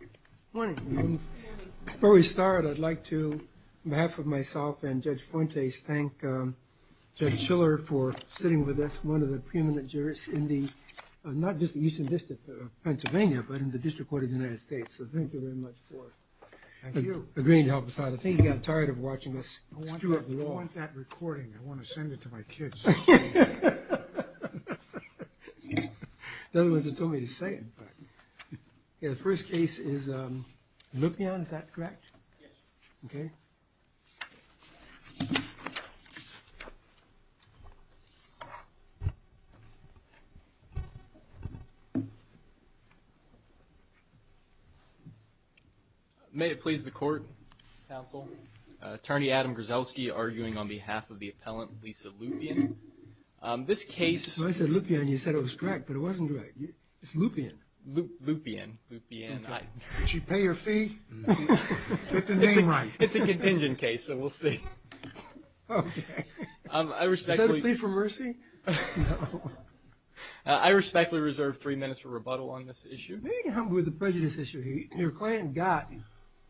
Good morning. Before we start, I'd like to, on behalf of myself and Judge Fuentes, thank Judge Schiller for sitting with us, one of the preeminent jurists in the, not just the Eastern District of Pennsylvania, but in the District Court of the United States. So thank you very much for agreeing to help us out. I think he got tired of watching us. I want that recording. I want to send it to my kids. The other ones have told me to say it. The first case is Lupyan, is that correct? Yes. Okay. May it please the court, counsel. Attorney Adam Grzelski arguing on behalf of the appellant, Lisa Lupyan. This case... I said Lupyan, you said it was correct, but it wasn't correct. It's Lupyan. Lupyan. Lupyan. Did she pay her fee? Get the name right. It's a contingent case, so we'll see. Okay. I respectfully... Is that a plea for mercy? No. I respectfully reserve three minutes for rebuttal on this issue. Maybe you can help me with the prejudice issue here. Your client got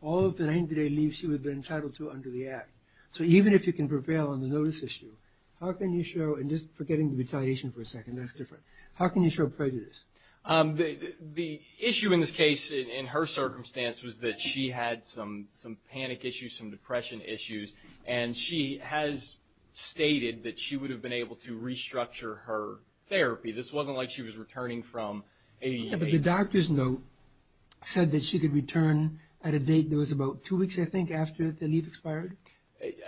all of the 90-day leave she would have been entitled to under the Act. So even if you can prevail on the notice issue, how can you show, and just forgetting the retaliation for a second, that's different, how can you show prejudice? The issue in this case, in her circumstance, was that she had some panic issues, some depression issues, and she has stated that she would have been able to restructure her therapy. This wasn't like she was returning from a... Yeah, but the doctor's note said that she could return at a date that was about two weeks, I think, after the leave expired.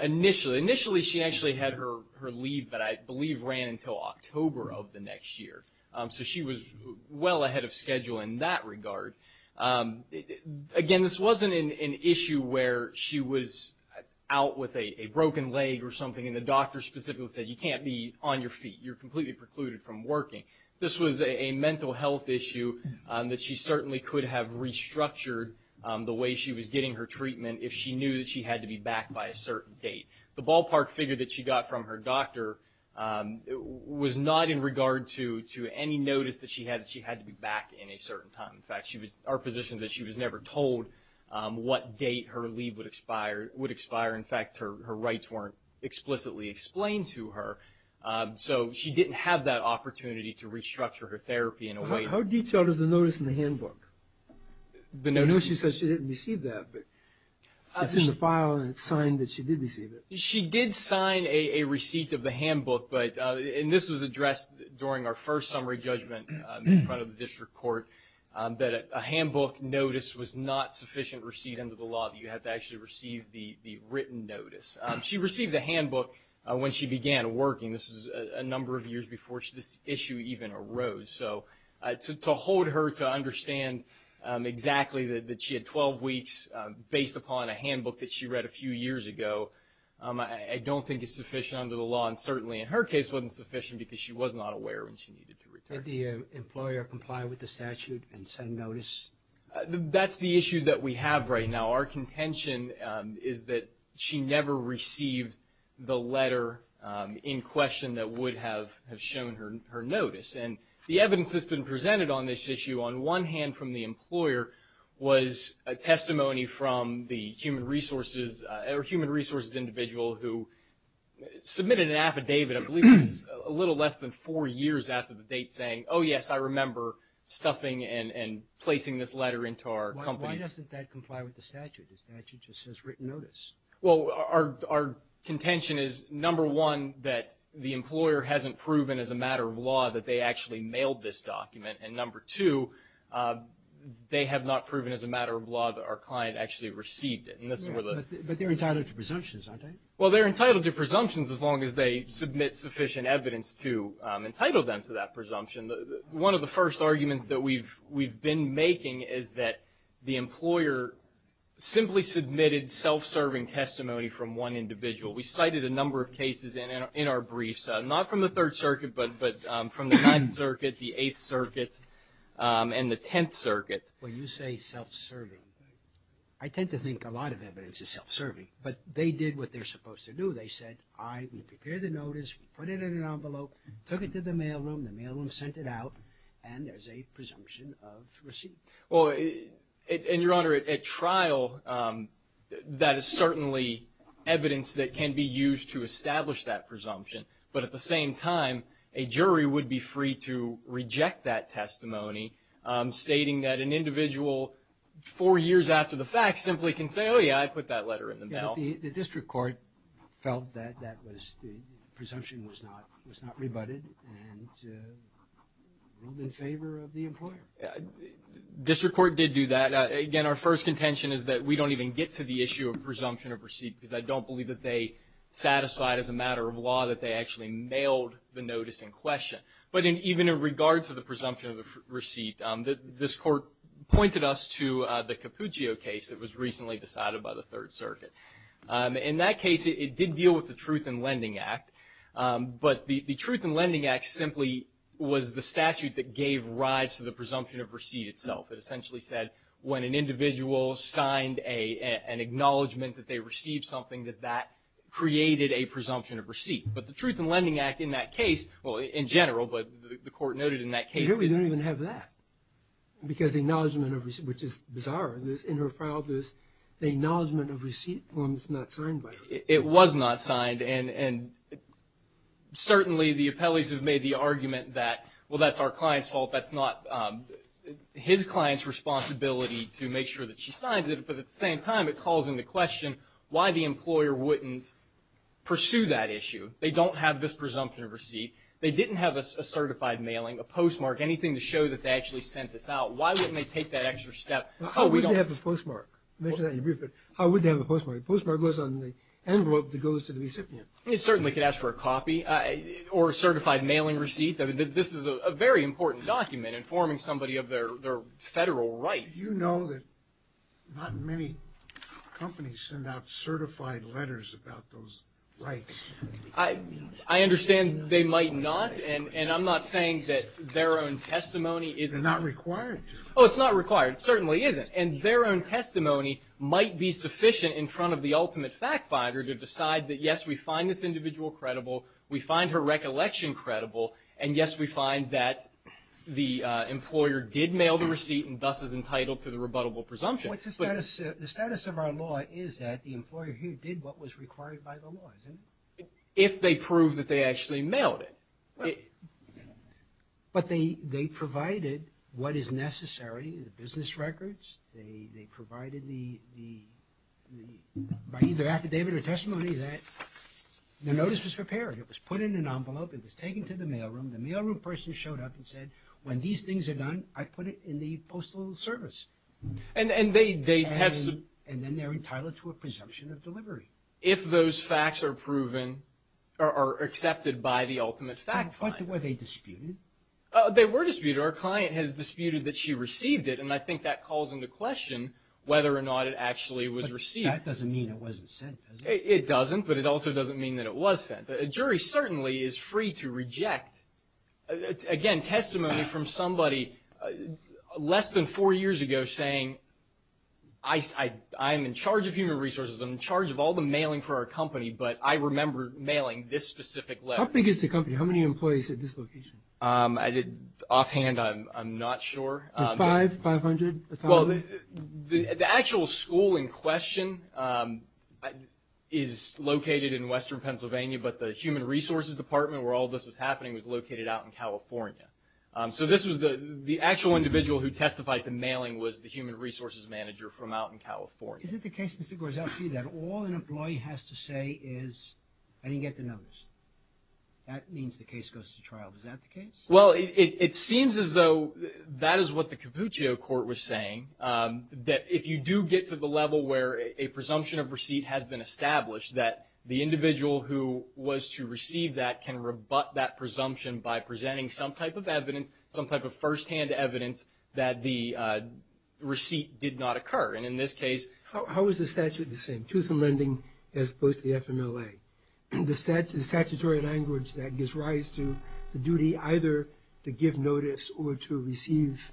Initially. Initially, she actually had her leave that I believe ran until October of the next year. So she was well ahead of schedule in that regard. Again, this wasn't an issue where she was out with a broken leg or something, and the doctor specifically said, you can't be on your feet. You're completely precluded from working. This was a mental health issue that she certainly could have restructured the way she was getting her treatment if she knew that she had to be back by a certain date. The ballpark figure that she got from her doctor was not in regard to any notice that she had that she had to be back in a certain time. In fact, our position is that she was never told what date her leave would expire. In fact, her rights weren't explicitly explained to her, so she didn't have that opportunity to restructure her therapy in a way... How detailed is the notice in the handbook? I know she said she didn't receive that, but it's in the file and it's signed that she did receive it. She did sign a receipt of the handbook, and this was addressed during our first summary judgment in front of the district court, that a handbook notice was not sufficient receipt under the law that you have to actually receive the written notice. She received the handbook when she began working. This was a number of years before this issue even arose. So to hold her to understand exactly that she had 12 weeks based upon a handbook that she read a few years ago, I don't think is sufficient under the law, and certainly in her case wasn't sufficient because she was not aware when she needed to return. Did the employer comply with the statute and send notice? That's the issue that we have right now. Our contention is that she never received the letter in question that would have shown her notice. And the evidence that's been presented on this issue, on one hand from the employer, was a testimony from the human resources individual who submitted an affidavit, I believe it was a little less than four years after the date, saying, oh yes, I remember stuffing and placing this letter into our company. Why doesn't that comply with the statute? The statute just says written notice. Well, our contention is, number one, that the employer hasn't proven as a matter of law that they actually mailed this document, and number two, they have not proven as a matter of law that our client actually received it. But they're entitled to presumptions, aren't they? Well, they're entitled to presumptions as long as they submit sufficient evidence to entitle them to that presumption. One of the first arguments that we've been making is that the employer simply submitted self-serving testimony from one individual. We cited a number of cases in our briefs, not from the Third Circuit, but from the Ninth Circuit, the Eighth Circuit, and the Tenth Circuit. When you say self-serving, I tend to think a lot of evidence is self-serving, but they did what they're supposed to do. They said, all right, we prepared the notice, put it in an envelope, took it to the mail room, the mail room sent it out, and there's a presumption of receipt. Well, and, Your Honor, at trial, that is certainly evidence that can be used to establish that presumption, but at the same time, a jury would be free to reject that testimony, stating that an individual four years after the fact simply can say, oh, yeah, I put that letter in the mail. But the district court felt that that was the presumption was not rebutted and ruled in favor of the employer. District court did do that. Again, our first contention is that we don't even get to the issue of presumption of receipt because I don't believe that they satisfied as a matter of law that they actually mailed the notice in question. But even in regards to the presumption of receipt, this Court pointed us to the Cappuccio case that was recently decided by the Third Circuit. In that case, it did deal with the Truth in Lending Act, but the Truth in Lending Act simply was the statute that gave rise to the presumption of receipt itself. It essentially said when an individual signed an acknowledgment that they received something, that that created a presumption of receipt. But the Truth in Lending Act in that case, well, in general, but the Court noted in that case. The jury didn't even have that because the acknowledgment of receipt, which is bizarre. In her file, there's the acknowledgment of receipt form that's not signed by her. It was not signed. And certainly the appellees have made the argument that, well, that's our client's fault. That's not his client's responsibility to make sure that she signs it. But at the same time, it calls into question why the employer wouldn't pursue that issue. They don't have this presumption of receipt. They didn't have a certified mailing, a postmark, anything to show that they actually sent this out. Why wouldn't they take that extra step? How would they have a postmark? I mentioned that in a brief, but how would they have a postmark? A postmark goes on the envelope that goes to the recipient. It certainly could ask for a copy or a certified mailing receipt. This is a very important document informing somebody of their federal rights. Do you know that not many companies send out certified letters about those rights? I understand they might not, and I'm not saying that their own testimony isn't. They're not required to. Oh, it's not required. It certainly isn't. And their own testimony might be sufficient in front of the ultimate fact finder to decide that, yes, we find this individual credible, we find her recollection credible, and, yes, we find that the employer did mail the receipt and thus is entitled to the rebuttable presumption. What's the status? The status of our law is that the employer here did what was required by the law, isn't it? If they prove that they actually mailed it. But they provided what is necessary, the business records. They provided the, by either affidavit or testimony, that the notice was prepared. It was put in an envelope. It was taken to the mail room. The mail room person showed up and said, when these things are done, I put it in the postal service. And they have some. And then they're entitled to a presumption of delivery. If those facts are proven or accepted by the ultimate fact finder. Were they disputed? They were disputed. Our client has disputed that she received it, and I think that calls into question whether or not it actually was received. But that doesn't mean it wasn't sent, does it? It doesn't, but it also doesn't mean that it was sent. A jury certainly is free to reject, again, testimony from somebody less than four years ago saying, I'm in charge of human resources. I'm in charge of all the mailing for our company. But I remember mailing this specific letter. How big is the company? How many employees at this location? Offhand, I'm not sure. Five, 500? The actual school in question is located in western Pennsylvania, but the human resources department where all this was happening was located out in California. So this was the actual individual who testified to mailing was the human resources manager from out in California. Is it the case, Mr. Gorzowski, that all an employee has to say is, I didn't get the notice? That means the case goes to trial. Is that the case? Well, it seems as though that is what the Capuccio Court was saying, that if you do get to the level where a presumption of receipt has been established, that the individual who was to receive that can rebut that presumption by presenting some type of evidence, some type of firsthand evidence that the receipt did not occur. And in this case — How is the statute the same, truth in lending as opposed to the FMLA? The statutory language that gives rise to the duty either to give notice or to receive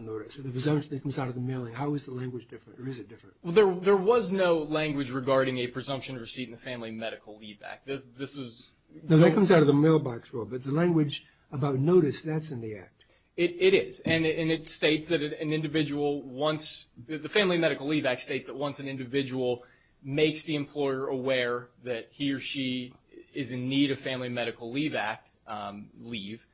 notice, or the presumption that comes out of the mailing. How is the language different, or is it different? Well, there was no language regarding a presumption of receipt in the family medical leave act. This is — No, that comes out of the mailbox rule, but the language about notice, that's in the act. It is. And it states that an individual wants — that he or she is in need of family medical leave act leave.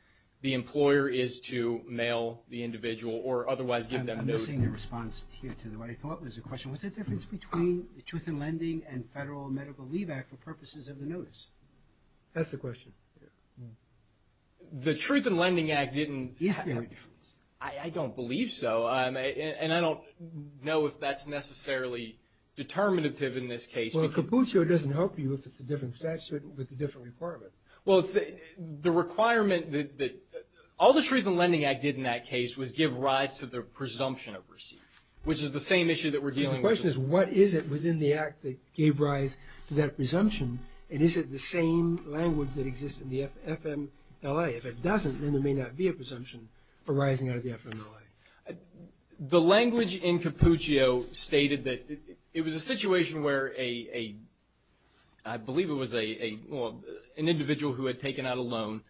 The employer is to mail the individual or otherwise give them notice. I'm missing the response here to what I thought was a question. What's the difference between the truth in lending and federal medical leave act for purposes of the notice? That's the question. The truth in lending act didn't — Is there a difference? I don't believe so. And I don't know if that's necessarily determinative in this case. Well, Capuccio doesn't help you if it's a different statute with a different requirement. Well, it's the requirement that — all the truth in lending act did in that case was give rise to the presumption of receipt, which is the same issue that we're dealing with. The question is what is it within the act that gave rise to that presumption, and is it the same language that exists in the FMLA? If it doesn't, then there may not be a presumption arising out of the FMLA. The language in Capuccio stated that it was a situation where a — I believe it was an individual who had taken out a loan,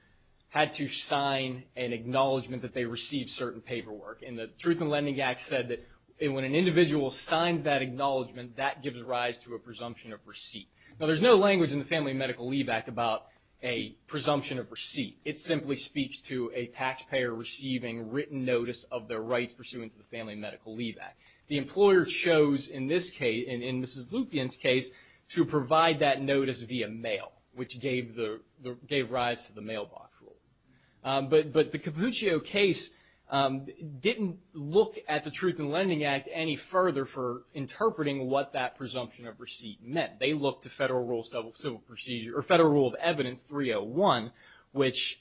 had to sign an acknowledgment that they received certain paperwork. And the truth in lending act said that when an individual signs that acknowledgment, that gives rise to a presumption of receipt. Now, there's no language in the family medical leave act about a presumption of receipt. It simply speaks to a taxpayer receiving written notice of their rights pursuant to the family medical leave act. The employer chose in this case, in Mrs. Lupien's case, to provide that notice via mail, which gave the — gave rise to the mailbox rule. But the Capuccio case didn't look at the truth in lending act any further for interpreting what that presumption of receipt meant. They looked to federal rule of civil procedure — or federal rule of evidence 301, which,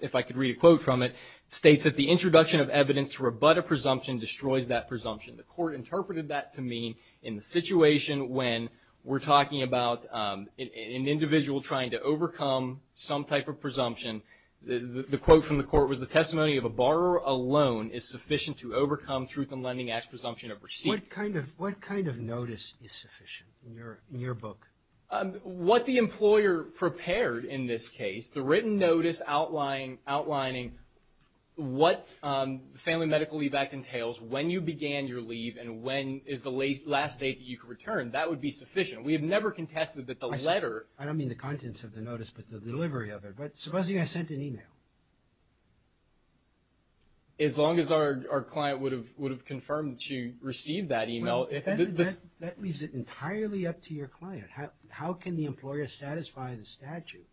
if I could read a quote from it, states that the introduction of evidence to rebut a presumption destroys that presumption. The court interpreted that to mean in the situation when we're talking about an individual trying to overcome some type of presumption, the quote from the court was, the testimony of a borrower alone is sufficient to overcome truth in lending act presumption of receipt. What kind of notice is sufficient in your book? What the employer prepared in this case, the written notice outlining what the family medical leave act entails, when you began your leave, and when is the last date that you could return, that would be sufficient. We have never contested that the letter — I don't mean the contents of the notice, but the delivery of it. But supposing I sent an email? As long as our client would have confirmed that you received that email. That leaves it entirely up to your client. How can the employer satisfy the statute?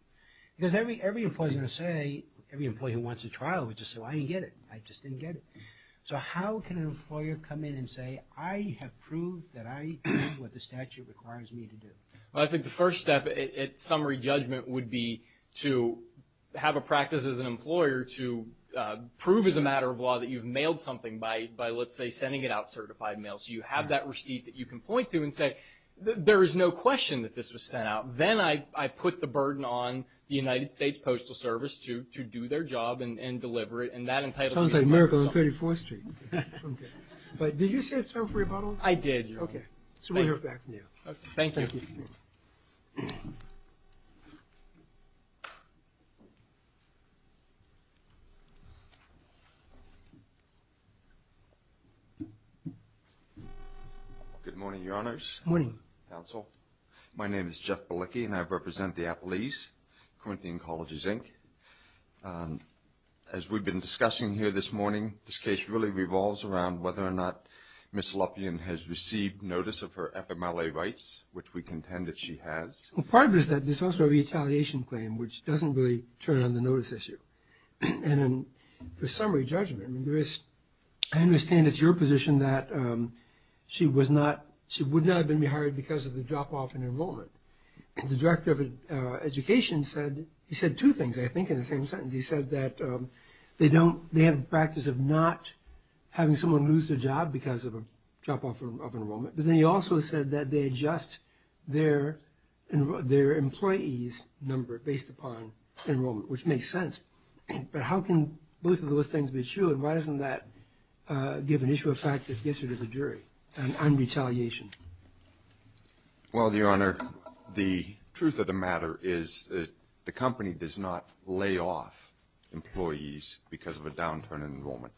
Because every employee is going to say — every employee who wants a trial would just say, well, I didn't get it. I just didn't get it. So how can an employer come in and say, I have proved that I did what the statute requires me to do? Well, I think the first step at summary judgment would be to have a practice as an employer to prove as a matter of law that you've mailed something by, let's say, sending it out certified mail. So you have that receipt that you can point to and say, there is no question that this was sent out. Then I put the burden on the United States Postal Service to do their job and deliver it. Sounds like a miracle on 34th Street. But did you set a term for your bottle? I did. Okay. So we'll hear back from you. Okay. Thank you. Thank you. Good morning, Your Honors. Good morning. Counsel. My name is Jeff Balicki, and I represent the Appalachians, Corinthian Colleges, Inc. As we've been discussing here this morning, this case really revolves around whether or not Ms. Luffian has received notice of her FMLA rights, which we contend that she has. Well, part of it is that there's also a retaliation claim, which doesn't really turn on the notice issue. And for summary judgment, I understand it's your position that she would not have been rehired because of the drop-off in enrollment. The director of education said two things, I think, in the same sentence. He said that they have a practice of not having someone lose their job because of a drop-off of enrollment. But then he also said that they adjust their employee's number based upon enrollment, which makes sense. But how can both of those things be true, and why doesn't that give an issue of fact that gets her to the jury on retaliation? Well, Your Honor, the truth of the matter is that the company does not lay off employees because of a downturn in enrollment.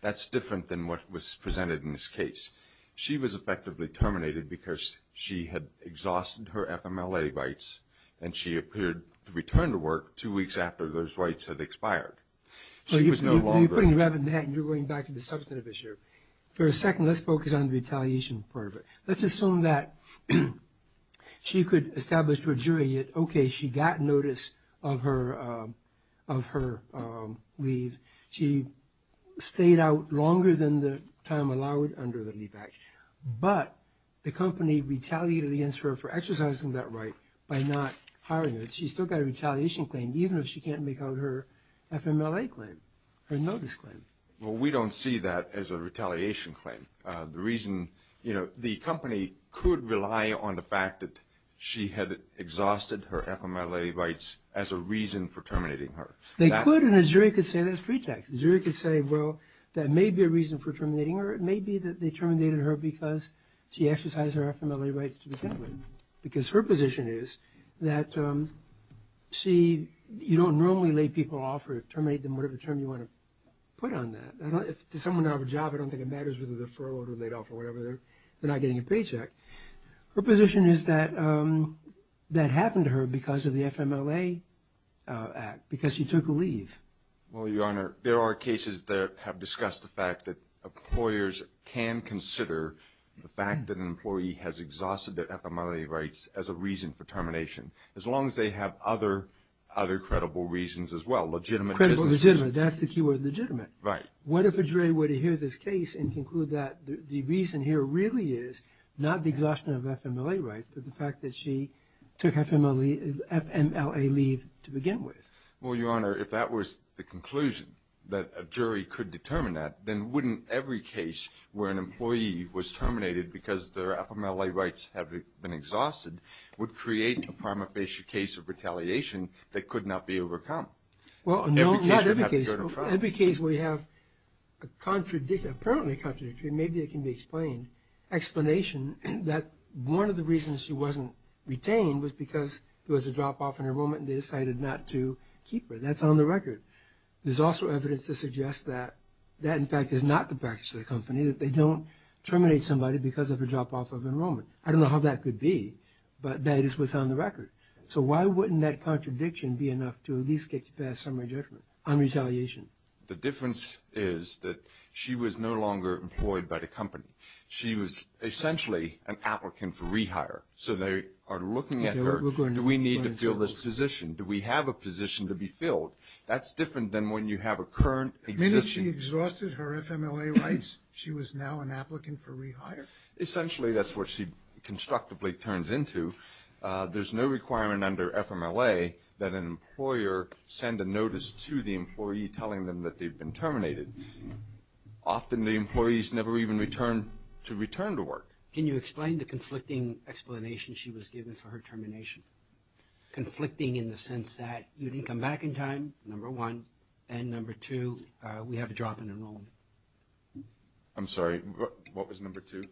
That's different than what was presented in this case. She was effectively terminated because she had exhausted her FMLA rights, and she appeared to return to work two weeks after those rights had expired. She was no longer- You're putting the rabbit in the hat, and you're going back to the substantive issue. For a second, let's focus on the retaliation part of it. Let's assume that she could establish to a jury that, okay, she got notice of her leave. She stayed out longer than the time allowed under the Leave Act. But the company retaliated against her for exercising that right by not hiring her. She still got a retaliation claim, even if she can't make out her FMLA claim, her notice claim. Well, we don't see that as a retaliation claim. The reason, you know, the company could rely on the fact that she had exhausted her FMLA rights as a reason for terminating her. They could, and the jury could say that's pretext. The jury could say, well, that may be a reason for terminating her. It may be that they terminated her because she exercised her FMLA rights to begin with, because her position is that, see, you don't normally lay people off or terminate them, whatever term you want to put on that. If someone doesn't have a job, I don't think it matters whether they're furloughed or laid off or whatever. They're not getting a paycheck. Her position is that that happened to her because of the FMLA Act, because she took a leave. Well, Your Honor, there are cases that have discussed the fact that employers can consider the fact that an employee has exhausted their FMLA rights as a reason for termination, as long as they have other credible reasons as well, legitimate business reasons. Credible, legitimate. That's the key word, legitimate. Right. What if a jury were to hear this case and conclude that the reason here really is not the exhaustion of FMLA rights, but the fact that she took FMLA leave to begin with? Well, Your Honor, if that was the conclusion that a jury could determine that, then wouldn't every case where an employee was terminated because their FMLA rights have been exhausted would create a prima facie case of retaliation that could not be overcome? Well, no, not every case. Every case would have to go to trial. Every case where you have a contradiction, apparently a contradiction, maybe it can be explained, explanation that one of the reasons she wasn't retained was because there was a drop-off in enrollment and they decided not to keep her. That's on the record. There's also evidence to suggest that that, in fact, is not the practice of the company, that they don't terminate somebody because of a drop-off of enrollment. I don't know how that could be, but that is what's on the record. So why wouldn't that contradiction be enough to at least get you past summary judgment on retaliation? The difference is that she was no longer employed by the company. She was essentially an applicant for rehire. So they are looking at her, do we need to fill this position? Do we have a position to be filled? That's different than when you have a current existence. The minute she exhausted her FMLA rights, she was now an applicant for rehire? Essentially, that's what she constructively turns into. There's no requirement under FMLA that an employer send a notice to the employee telling them that they've been terminated. Often the employees never even return to work. Can you explain the conflicting explanation she was given for her termination? Conflicting in the sense that you didn't come back in time, number one, and number two, we have a drop in enrollment. I'm sorry, what was number two?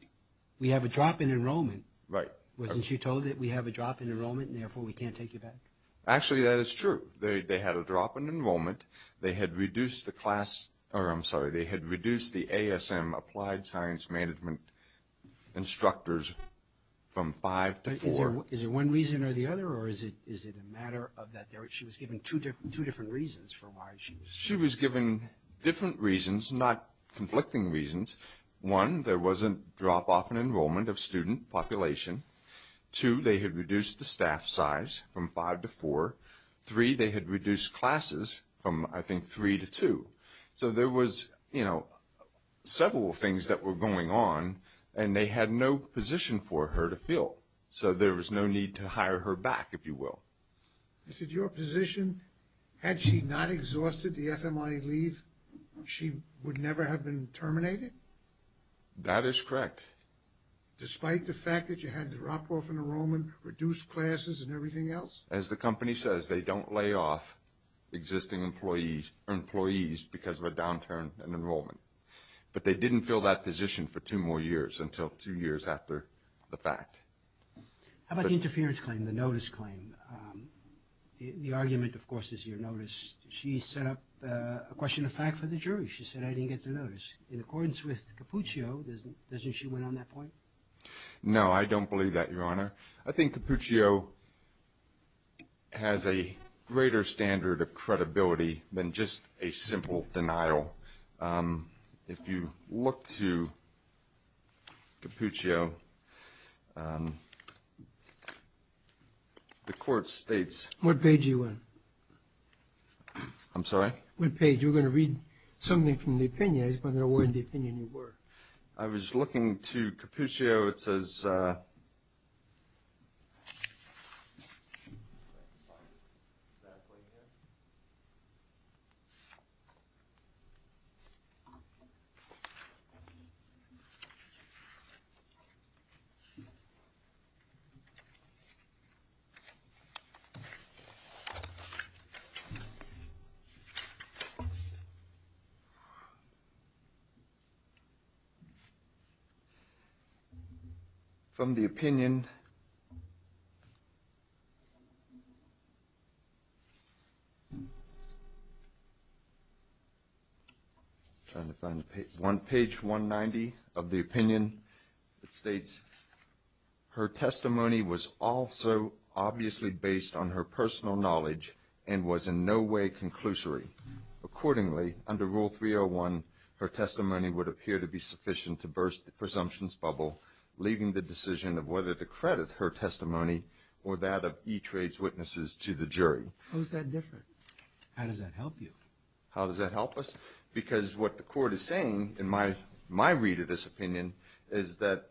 We have a drop in enrollment. Right. Wasn't she told that we have a drop in enrollment and therefore we can't take you back? Actually, that is true. They had a drop in enrollment. They had reduced the ASM, Applied Science Management instructors, from five to four. Is it one reason or the other, or is it a matter of that she was given two different reasons for why she was terminated? She was given different reasons, not conflicting reasons. One, there was a drop off in enrollment of student population. Two, they had reduced the staff size from five to four. Three, they had reduced classes from, I think, three to two. So there was, you know, several things that were going on, and they had no position for her to fill. So there was no need to hire her back, if you will. Is it your position, had she not exhausted the FMI leave, she would never have been terminated? That is correct. Despite the fact that you had a drop off in enrollment, reduced classes, and everything else? As the company says, they don't lay off existing employees because of a downturn in enrollment. But they didn't fill that position for two more years until two years after the fact. How about the interference claim, the notice claim? The argument, of course, is your notice. She set up a question of fact for the jury. She said, I didn't get the notice. In accordance with Cappuccio, doesn't she win on that point? No, I don't believe that, Your Honor. I think Cappuccio has a greater standard of credibility than just a simple denial. If you look to Cappuccio, the court states — What page are you on? I'm sorry? What page? You were going to read something from the opinion. I was going to read the opinion you were. I was looking to Cappuccio. It says — From the opinion — I'm trying to find the page. On page 190 of the opinion, it states, Her testimony was also obviously based on her personal knowledge and was in no way conclusory. Accordingly, under Rule 301, her testimony would appear to be sufficient to burst the presumptions bubble, leaving the decision of whether to credit her testimony or that of E-Trade's witnesses to the jury. How is that different? How does that help you? How does that help us? Because what the court is saying, in my read of this opinion, is that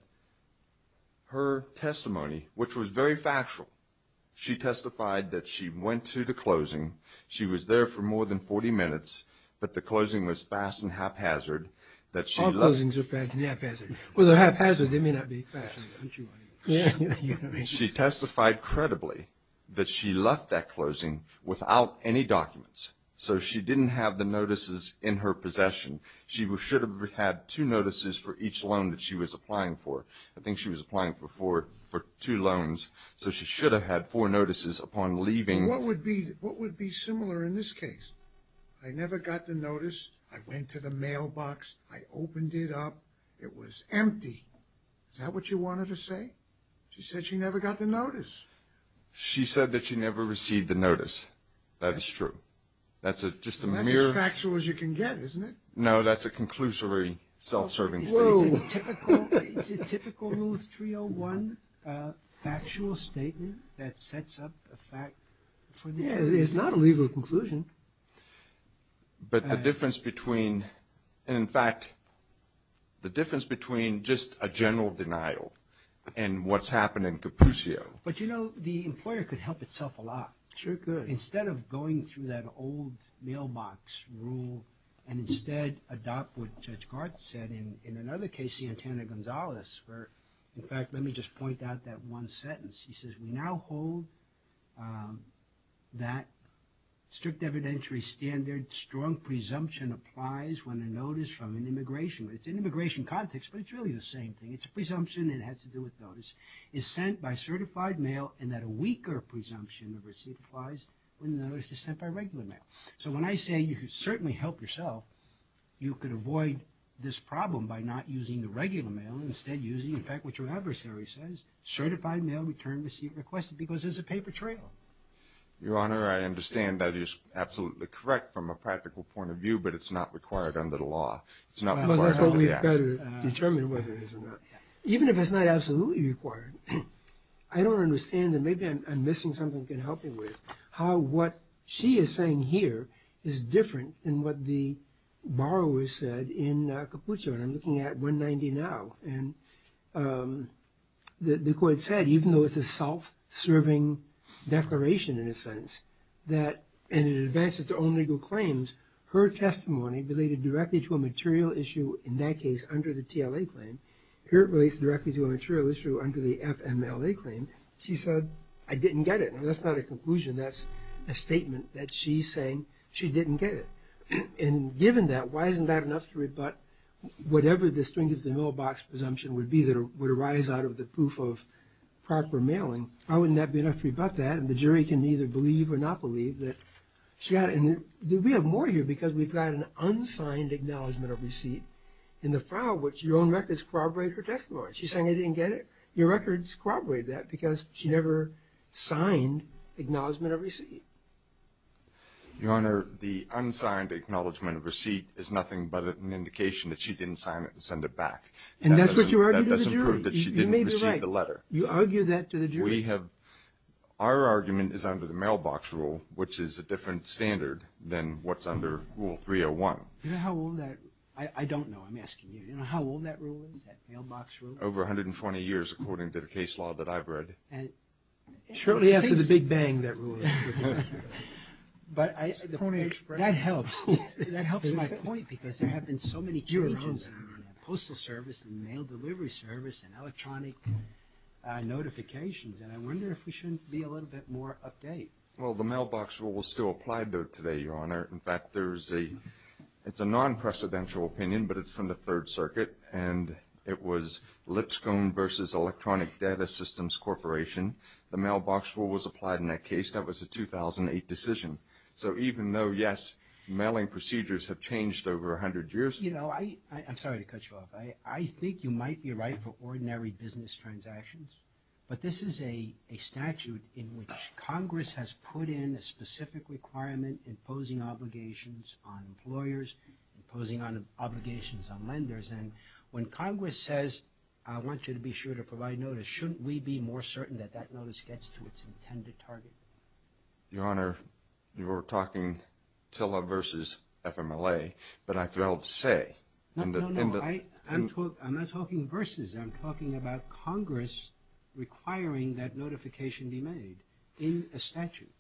her testimony, which was very factual, she testified that she went to the closing. She was there for more than 40 minutes, but the closing was fast and haphazard. All closings are fast and haphazard. Well, they're haphazard. They may not be fast. She testified credibly that she left that closing without any documents. So she didn't have the notices in her possession. She should have had two notices for each loan that she was applying for. I think she was applying for two loans. So she should have had four notices upon leaving. What would be similar in this case? I never got the notice. I went to the mailbox. I opened it up. It was empty. Is that what you wanted to say? She said she never got the notice. She said that she never received the notice. That is true. That's just a mere – That's as factual as you can get, isn't it? No, that's a conclusory self-serving statement. It's a typical Rule 301 factual statement that sets up a fact. It's not a legal conclusion. But the difference between – and, in fact, the difference between just a general denial and what's happened in Capucio. But, you know, the employer could help itself a lot. Sure could. Instead of going through that old mailbox rule and instead adopt what Judge Garth said in another case, Santana-Gonzalez, where, in fact, let me just point out that one sentence. He says, We now hold that strict evidentiary standard, strong presumption applies when a notice from an immigration – it's an immigration context, but it's really the same thing. It's a presumption. It has to do with notice – is sent by certified mail, and that a weaker presumption of receipt applies when the notice is sent by regular mail. So when I say you could certainly help yourself, you could avoid this problem by not using the regular mail and instead using, in fact, what your adversary says, certified mail, return receipt requested, because there's a paper trail. Your Honor, I understand that is absolutely correct from a practical point of view, but it's not required under the law. It's not required under the act. But that's what we've got to determine whether it is or not. Even if it's not absolutely required, I don't understand that maybe I'm missing something that can help me with how what she is saying here is different than what the borrower said in Capuccio. And I'm looking at 190 now, and the court said, even though it's a self-serving declaration in a sense, that in advance of their own legal claims, her testimony related directly to a material issue, in that case under the TLA claim. Here it relates directly to a material issue under the FMLA claim. She said, I didn't get it. That's not a conclusion. That's a statement that she's saying she didn't get it. And given that, why isn't that enough to rebut whatever the string of the mailbox presumption would be that would arise out of the proof of proper mailing? Why wouldn't that be enough to rebut that? And the jury can either believe or not believe that she got it. And we have more here because we've got an unsigned acknowledgement of receipt in the file which your own records corroborate her testimony. She's saying I didn't get it. Your records corroborate that because she never signed acknowledgement of receipt. Your Honor, the unsigned acknowledgement of receipt is nothing but an indication that she didn't sign it and send it back. And that's what you argue to the jury. That doesn't prove that she didn't receive the letter. You may be right. You argue that to the jury. We have – our argument is under the mailbox rule, which is a different standard than what's under Rule 301. Do you know how old that – I don't know. I'm asking you. Do you know how old that rule is, that mailbox rule? Over 120 years, according to the case law that I've read. Shortly after the Big Bang, that rule. That helps. That helps with my point because there have been so many changes in postal service and mail delivery service and electronic notifications, and I wonder if we should be a little bit more update. Well, the mailbox rule is still applied to it today, Your Honor. In fact, there's a – it's a non-precedential opinion, but it's from the Third Circuit, and it was Lipscomb versus Electronic Data Systems Corporation. The mailbox rule was applied in that case. That was a 2008 decision. So even though, yes, mailing procedures have changed over 100 years. You know, I'm sorry to cut you off. I think you might be right for ordinary business transactions, but this is a statute in which Congress has put in a specific requirement imposing obligations on employers, imposing obligations on lenders, and when Congress says, I want you to be sure to provide notice, shouldn't we be more certain that that notice gets to its intended target? Your Honor, you're talking TILA versus FMLA, but I failed to say. No, no, no, I'm not talking versus. I'm talking about Congress requiring that notification be made in a statute.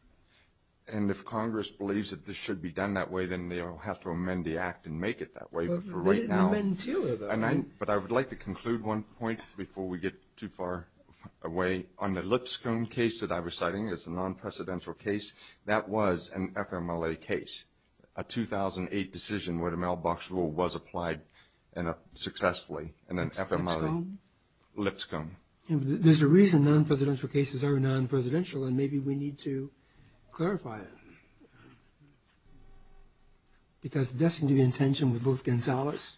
And if Congress believes that this should be done that way, then they'll have to amend the act and make it that way. But for right now – But they didn't amend TILA, though. But I would like to conclude one point before we get too far away. On the Lipscomb case that I was citing as a non-precedential case, that was an FMLA case, a 2008 decision where the mailbox rule was applied successfully in an FMLA. Lipscomb? Lipscomb. There's a reason non-presidential cases are non-presidential, and maybe we need to clarify it. Because that seems to be in tension with both Gonzalez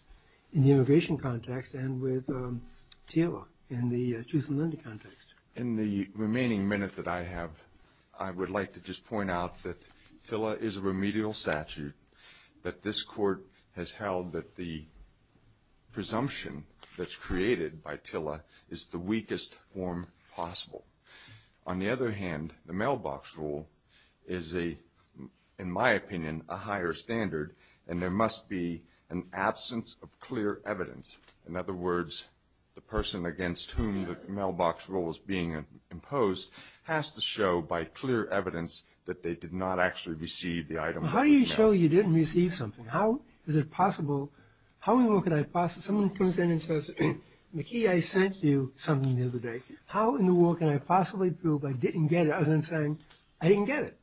in the immigration context and with TILA in the truth and liberty context. In the remaining minute that I have, I would like to just point out that TILA is a remedial statute, that this Court has held that the presumption that's created by TILA is the weakest form possible. On the other hand, the mailbox rule is, in my opinion, a higher standard, and there must be an absence of clear evidence. In other words, the person against whom the mailbox rule is being imposed has to show by clear evidence that they did not actually receive the item. How do you show you didn't receive something? How is it possible? How in the world can I – someone comes in and says, McKee, I sent you something the other day. How in the world can I possibly prove I didn't get it, other than saying I didn't get it?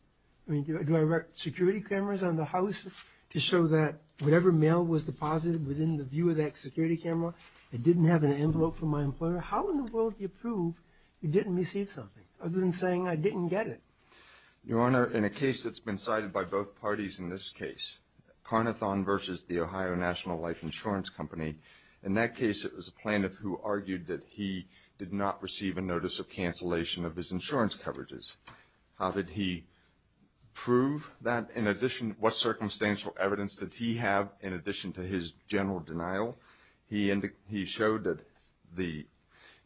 Do I write security cameras on the house to show that whatever mail was deposited within the view of that security camera, it didn't have an envelope from my employer? How in the world do you prove you didn't receive something, other than saying I didn't get it? Your Honor, in a case that's been cited by both parties in this case, Carnithon v. The Ohio National Life Insurance Company, in that case it was a plaintiff who argued that he did not receive a notice of cancellation of his insurance coverages. How did he prove that? In addition, what circumstantial evidence did he have in addition to his general denial? He showed that the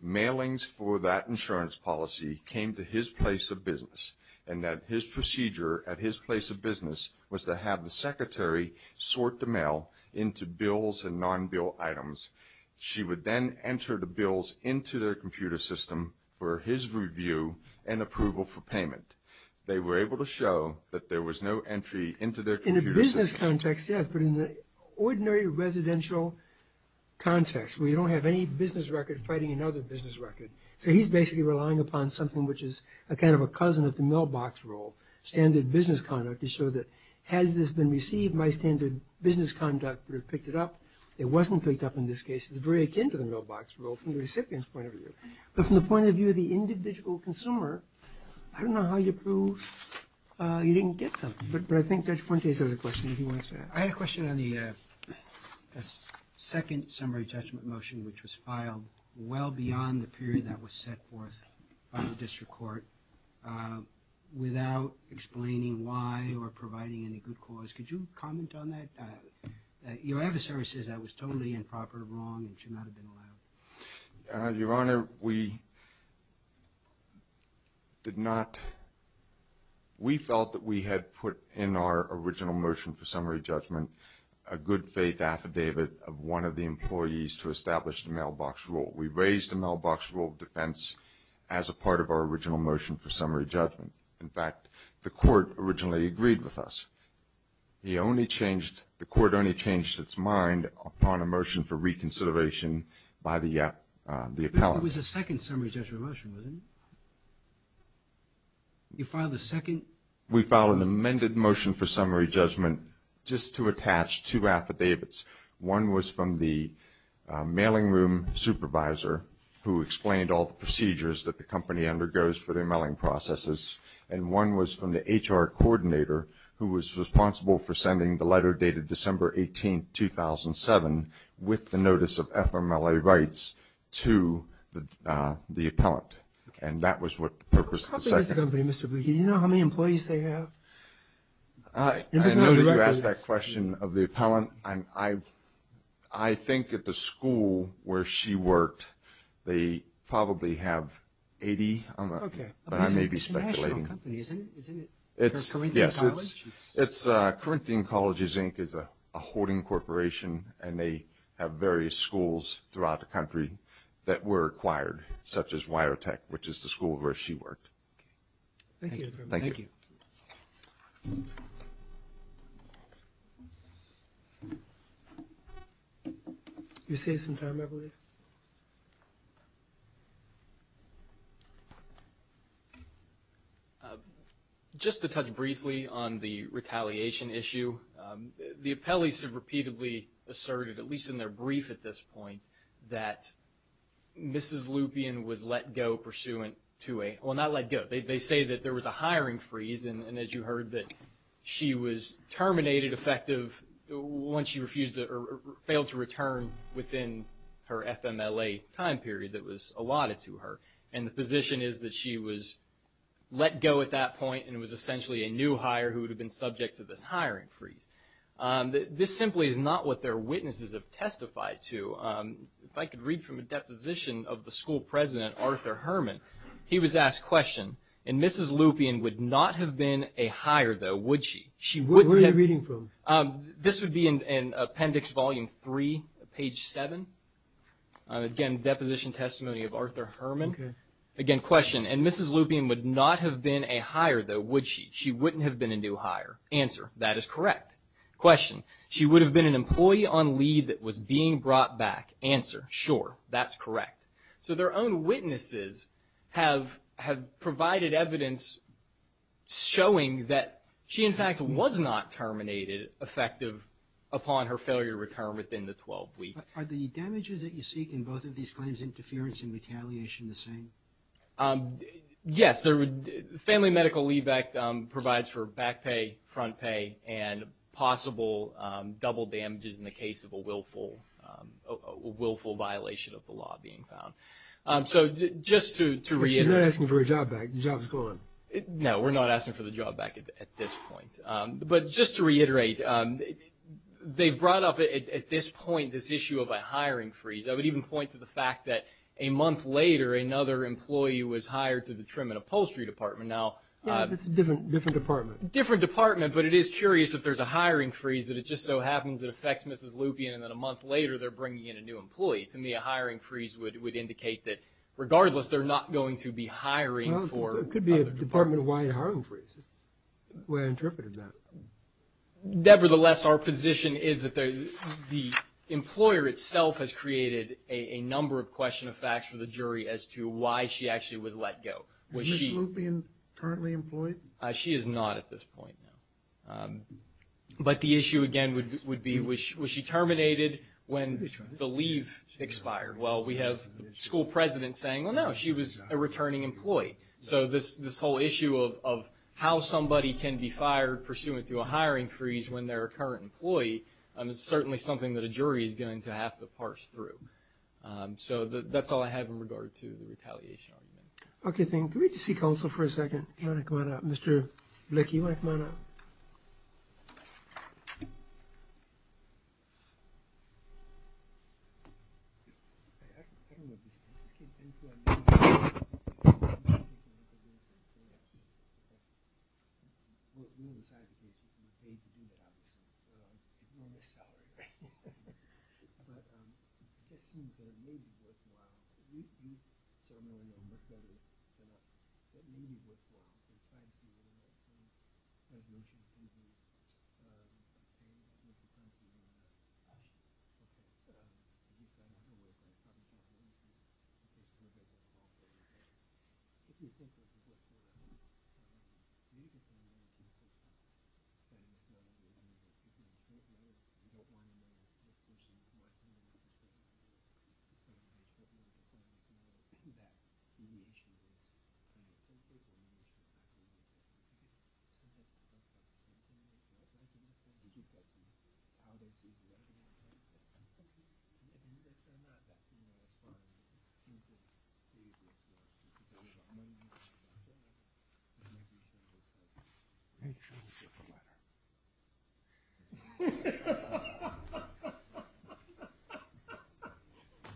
mailings for that insurance policy came to his place of business and that his procedure at his place of business was to have the secretary sort the mail into bills and non-bill items. She would then enter the bills into their computer system for his review and approval for payment. They were able to show that there was no entry into their computer system. In a business context, yes, but in the ordinary residential context where you don't have any business record fighting another business record. So he's basically relying upon something which is kind of a cousin of the mailbox rule, standard business conduct, to show that has this been received, my standard business conduct would have picked it up. It wasn't picked up in this case. It's very akin to the mailbox rule from the recipient's point of view. But from the point of view of the individual consumer, I don't know how you prove you didn't get something. But I think Judge Fuentes has a question that he wants to ask. I have a question on the second summary judgment motion, which was filed well beyond the period that was set forth by the district court without explaining why or providing any good cause. Could you comment on that? Your adversary says that was totally improper, wrong, and should not have been allowed. Your Honor, we felt that we had put in our original motion for summary judgment a good-faith affidavit of one of the employees to establish the mailbox rule. We raised the mailbox rule of defense as a part of our original motion for summary judgment. In fact, the court originally agreed with us. The court only changed its mind upon a motion for reconsideration by the appellant. It was the second summary judgment motion, wasn't it? You filed the second? We filed an amended motion for summary judgment just to attach two affidavits. One was from the mailing room supervisor, who explained all the procedures that the company undergoes for their mailing processes. And one was from the HR coordinator, who was responsible for sending the letter dated December 18, 2007, with the notice of FMLA rights to the appellant. And that was what the purpose of the second. How big is the company, Mr. Buchanan? Do you know how many employees they have? I know that you asked that question of the appellant. I think at the school where she worked, they probably have 80. Okay. But I may be speculating. It's a national company, isn't it? Yes, it's Corinthian Colleges, Inc. is a hoarding corporation, and they have various schools throughout the country that were acquired, such as WireTech, which is the school where she worked. Thank you. Thank you. You saved some time, I believe. Just to touch briefly on the retaliation issue, the appellees have repeatedly asserted, at least in their brief at this point, that Mrs. Lupien was let go pursuant to a – well, not let go. They say that there was a hiring freeze, and as you heard that she was terminated effective once she refused or failed to return within her FMLA time period that was allotted to her. And the position is that she was let go at that point and was essentially a new hire who would have been subject to this hiring freeze. This simply is not what their witnesses have testified to. If I could read from a deposition of the school president, Arthur Herman, he was asked, question, and Mrs. Lupien would not have been a hire, though, would she? Where are you reading from? This would be in Appendix Volume 3, page 7. Again, deposition testimony of Arthur Herman. Okay. Again, question, and Mrs. Lupien would not have been a hire, though, would she? She wouldn't have been a new hire. Answer, that is correct. Question, she would have been an employee on leave that was being brought back. Answer, sure, that's correct. So their own witnesses have provided evidence showing that she, in fact, was not terminated effective upon her failure to return within the 12 weeks. Are the damages that you seek in both of these claims, interference and retaliation, the same? Yes. Family Medical Leave Act provides for back pay, front pay, and possible double damages in the case of a willful violation of the law being found. So just to reiterate. You're not asking for her job back. The job's gone. No, we're not asking for the job back at this point. But just to reiterate, they've brought up at this point this issue of a hiring freeze. I would even point to the fact that a month later, another employee was hired to the Trim and Upholstery Department. Yeah, but it's a different department. Different department, but it is curious if there's a hiring freeze, that it just so happens it affects Mrs. Lupien, and then a month later they're bringing in a new employee. To me, a hiring freeze would indicate that regardless, they're not going to be hiring for other departments. Well, it could be a department-wide hiring freeze. That's the way I interpreted that. Nevertheless, our position is that the employer itself has created a number of question of facts for the jury as to why she actually would let go. Is Mrs. Lupien currently employed? She is not at this point, no. But the issue, again, would be was she terminated when the leave expired? Well, we have the school president saying, well, no, she was a returning employee. So this whole issue of how somebody can be fired pursuant to a hiring freeze when they're a current employee is certainly something that a jury is going to have to parse through. So that's all I have in regard to the retaliation argument. Okay, thank you. Can we just see counsel for a second? Do you want to come on up? Mr. Blakey, do you want to come on up? Thank you. Thank you.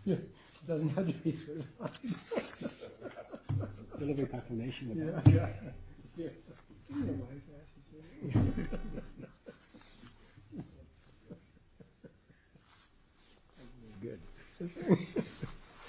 She doesn't have to be certified. A little bit of confirmation of that. Yeah. Yeah. That's a wise answer, sir. Thank you. Thank you. Thank you. Thank you.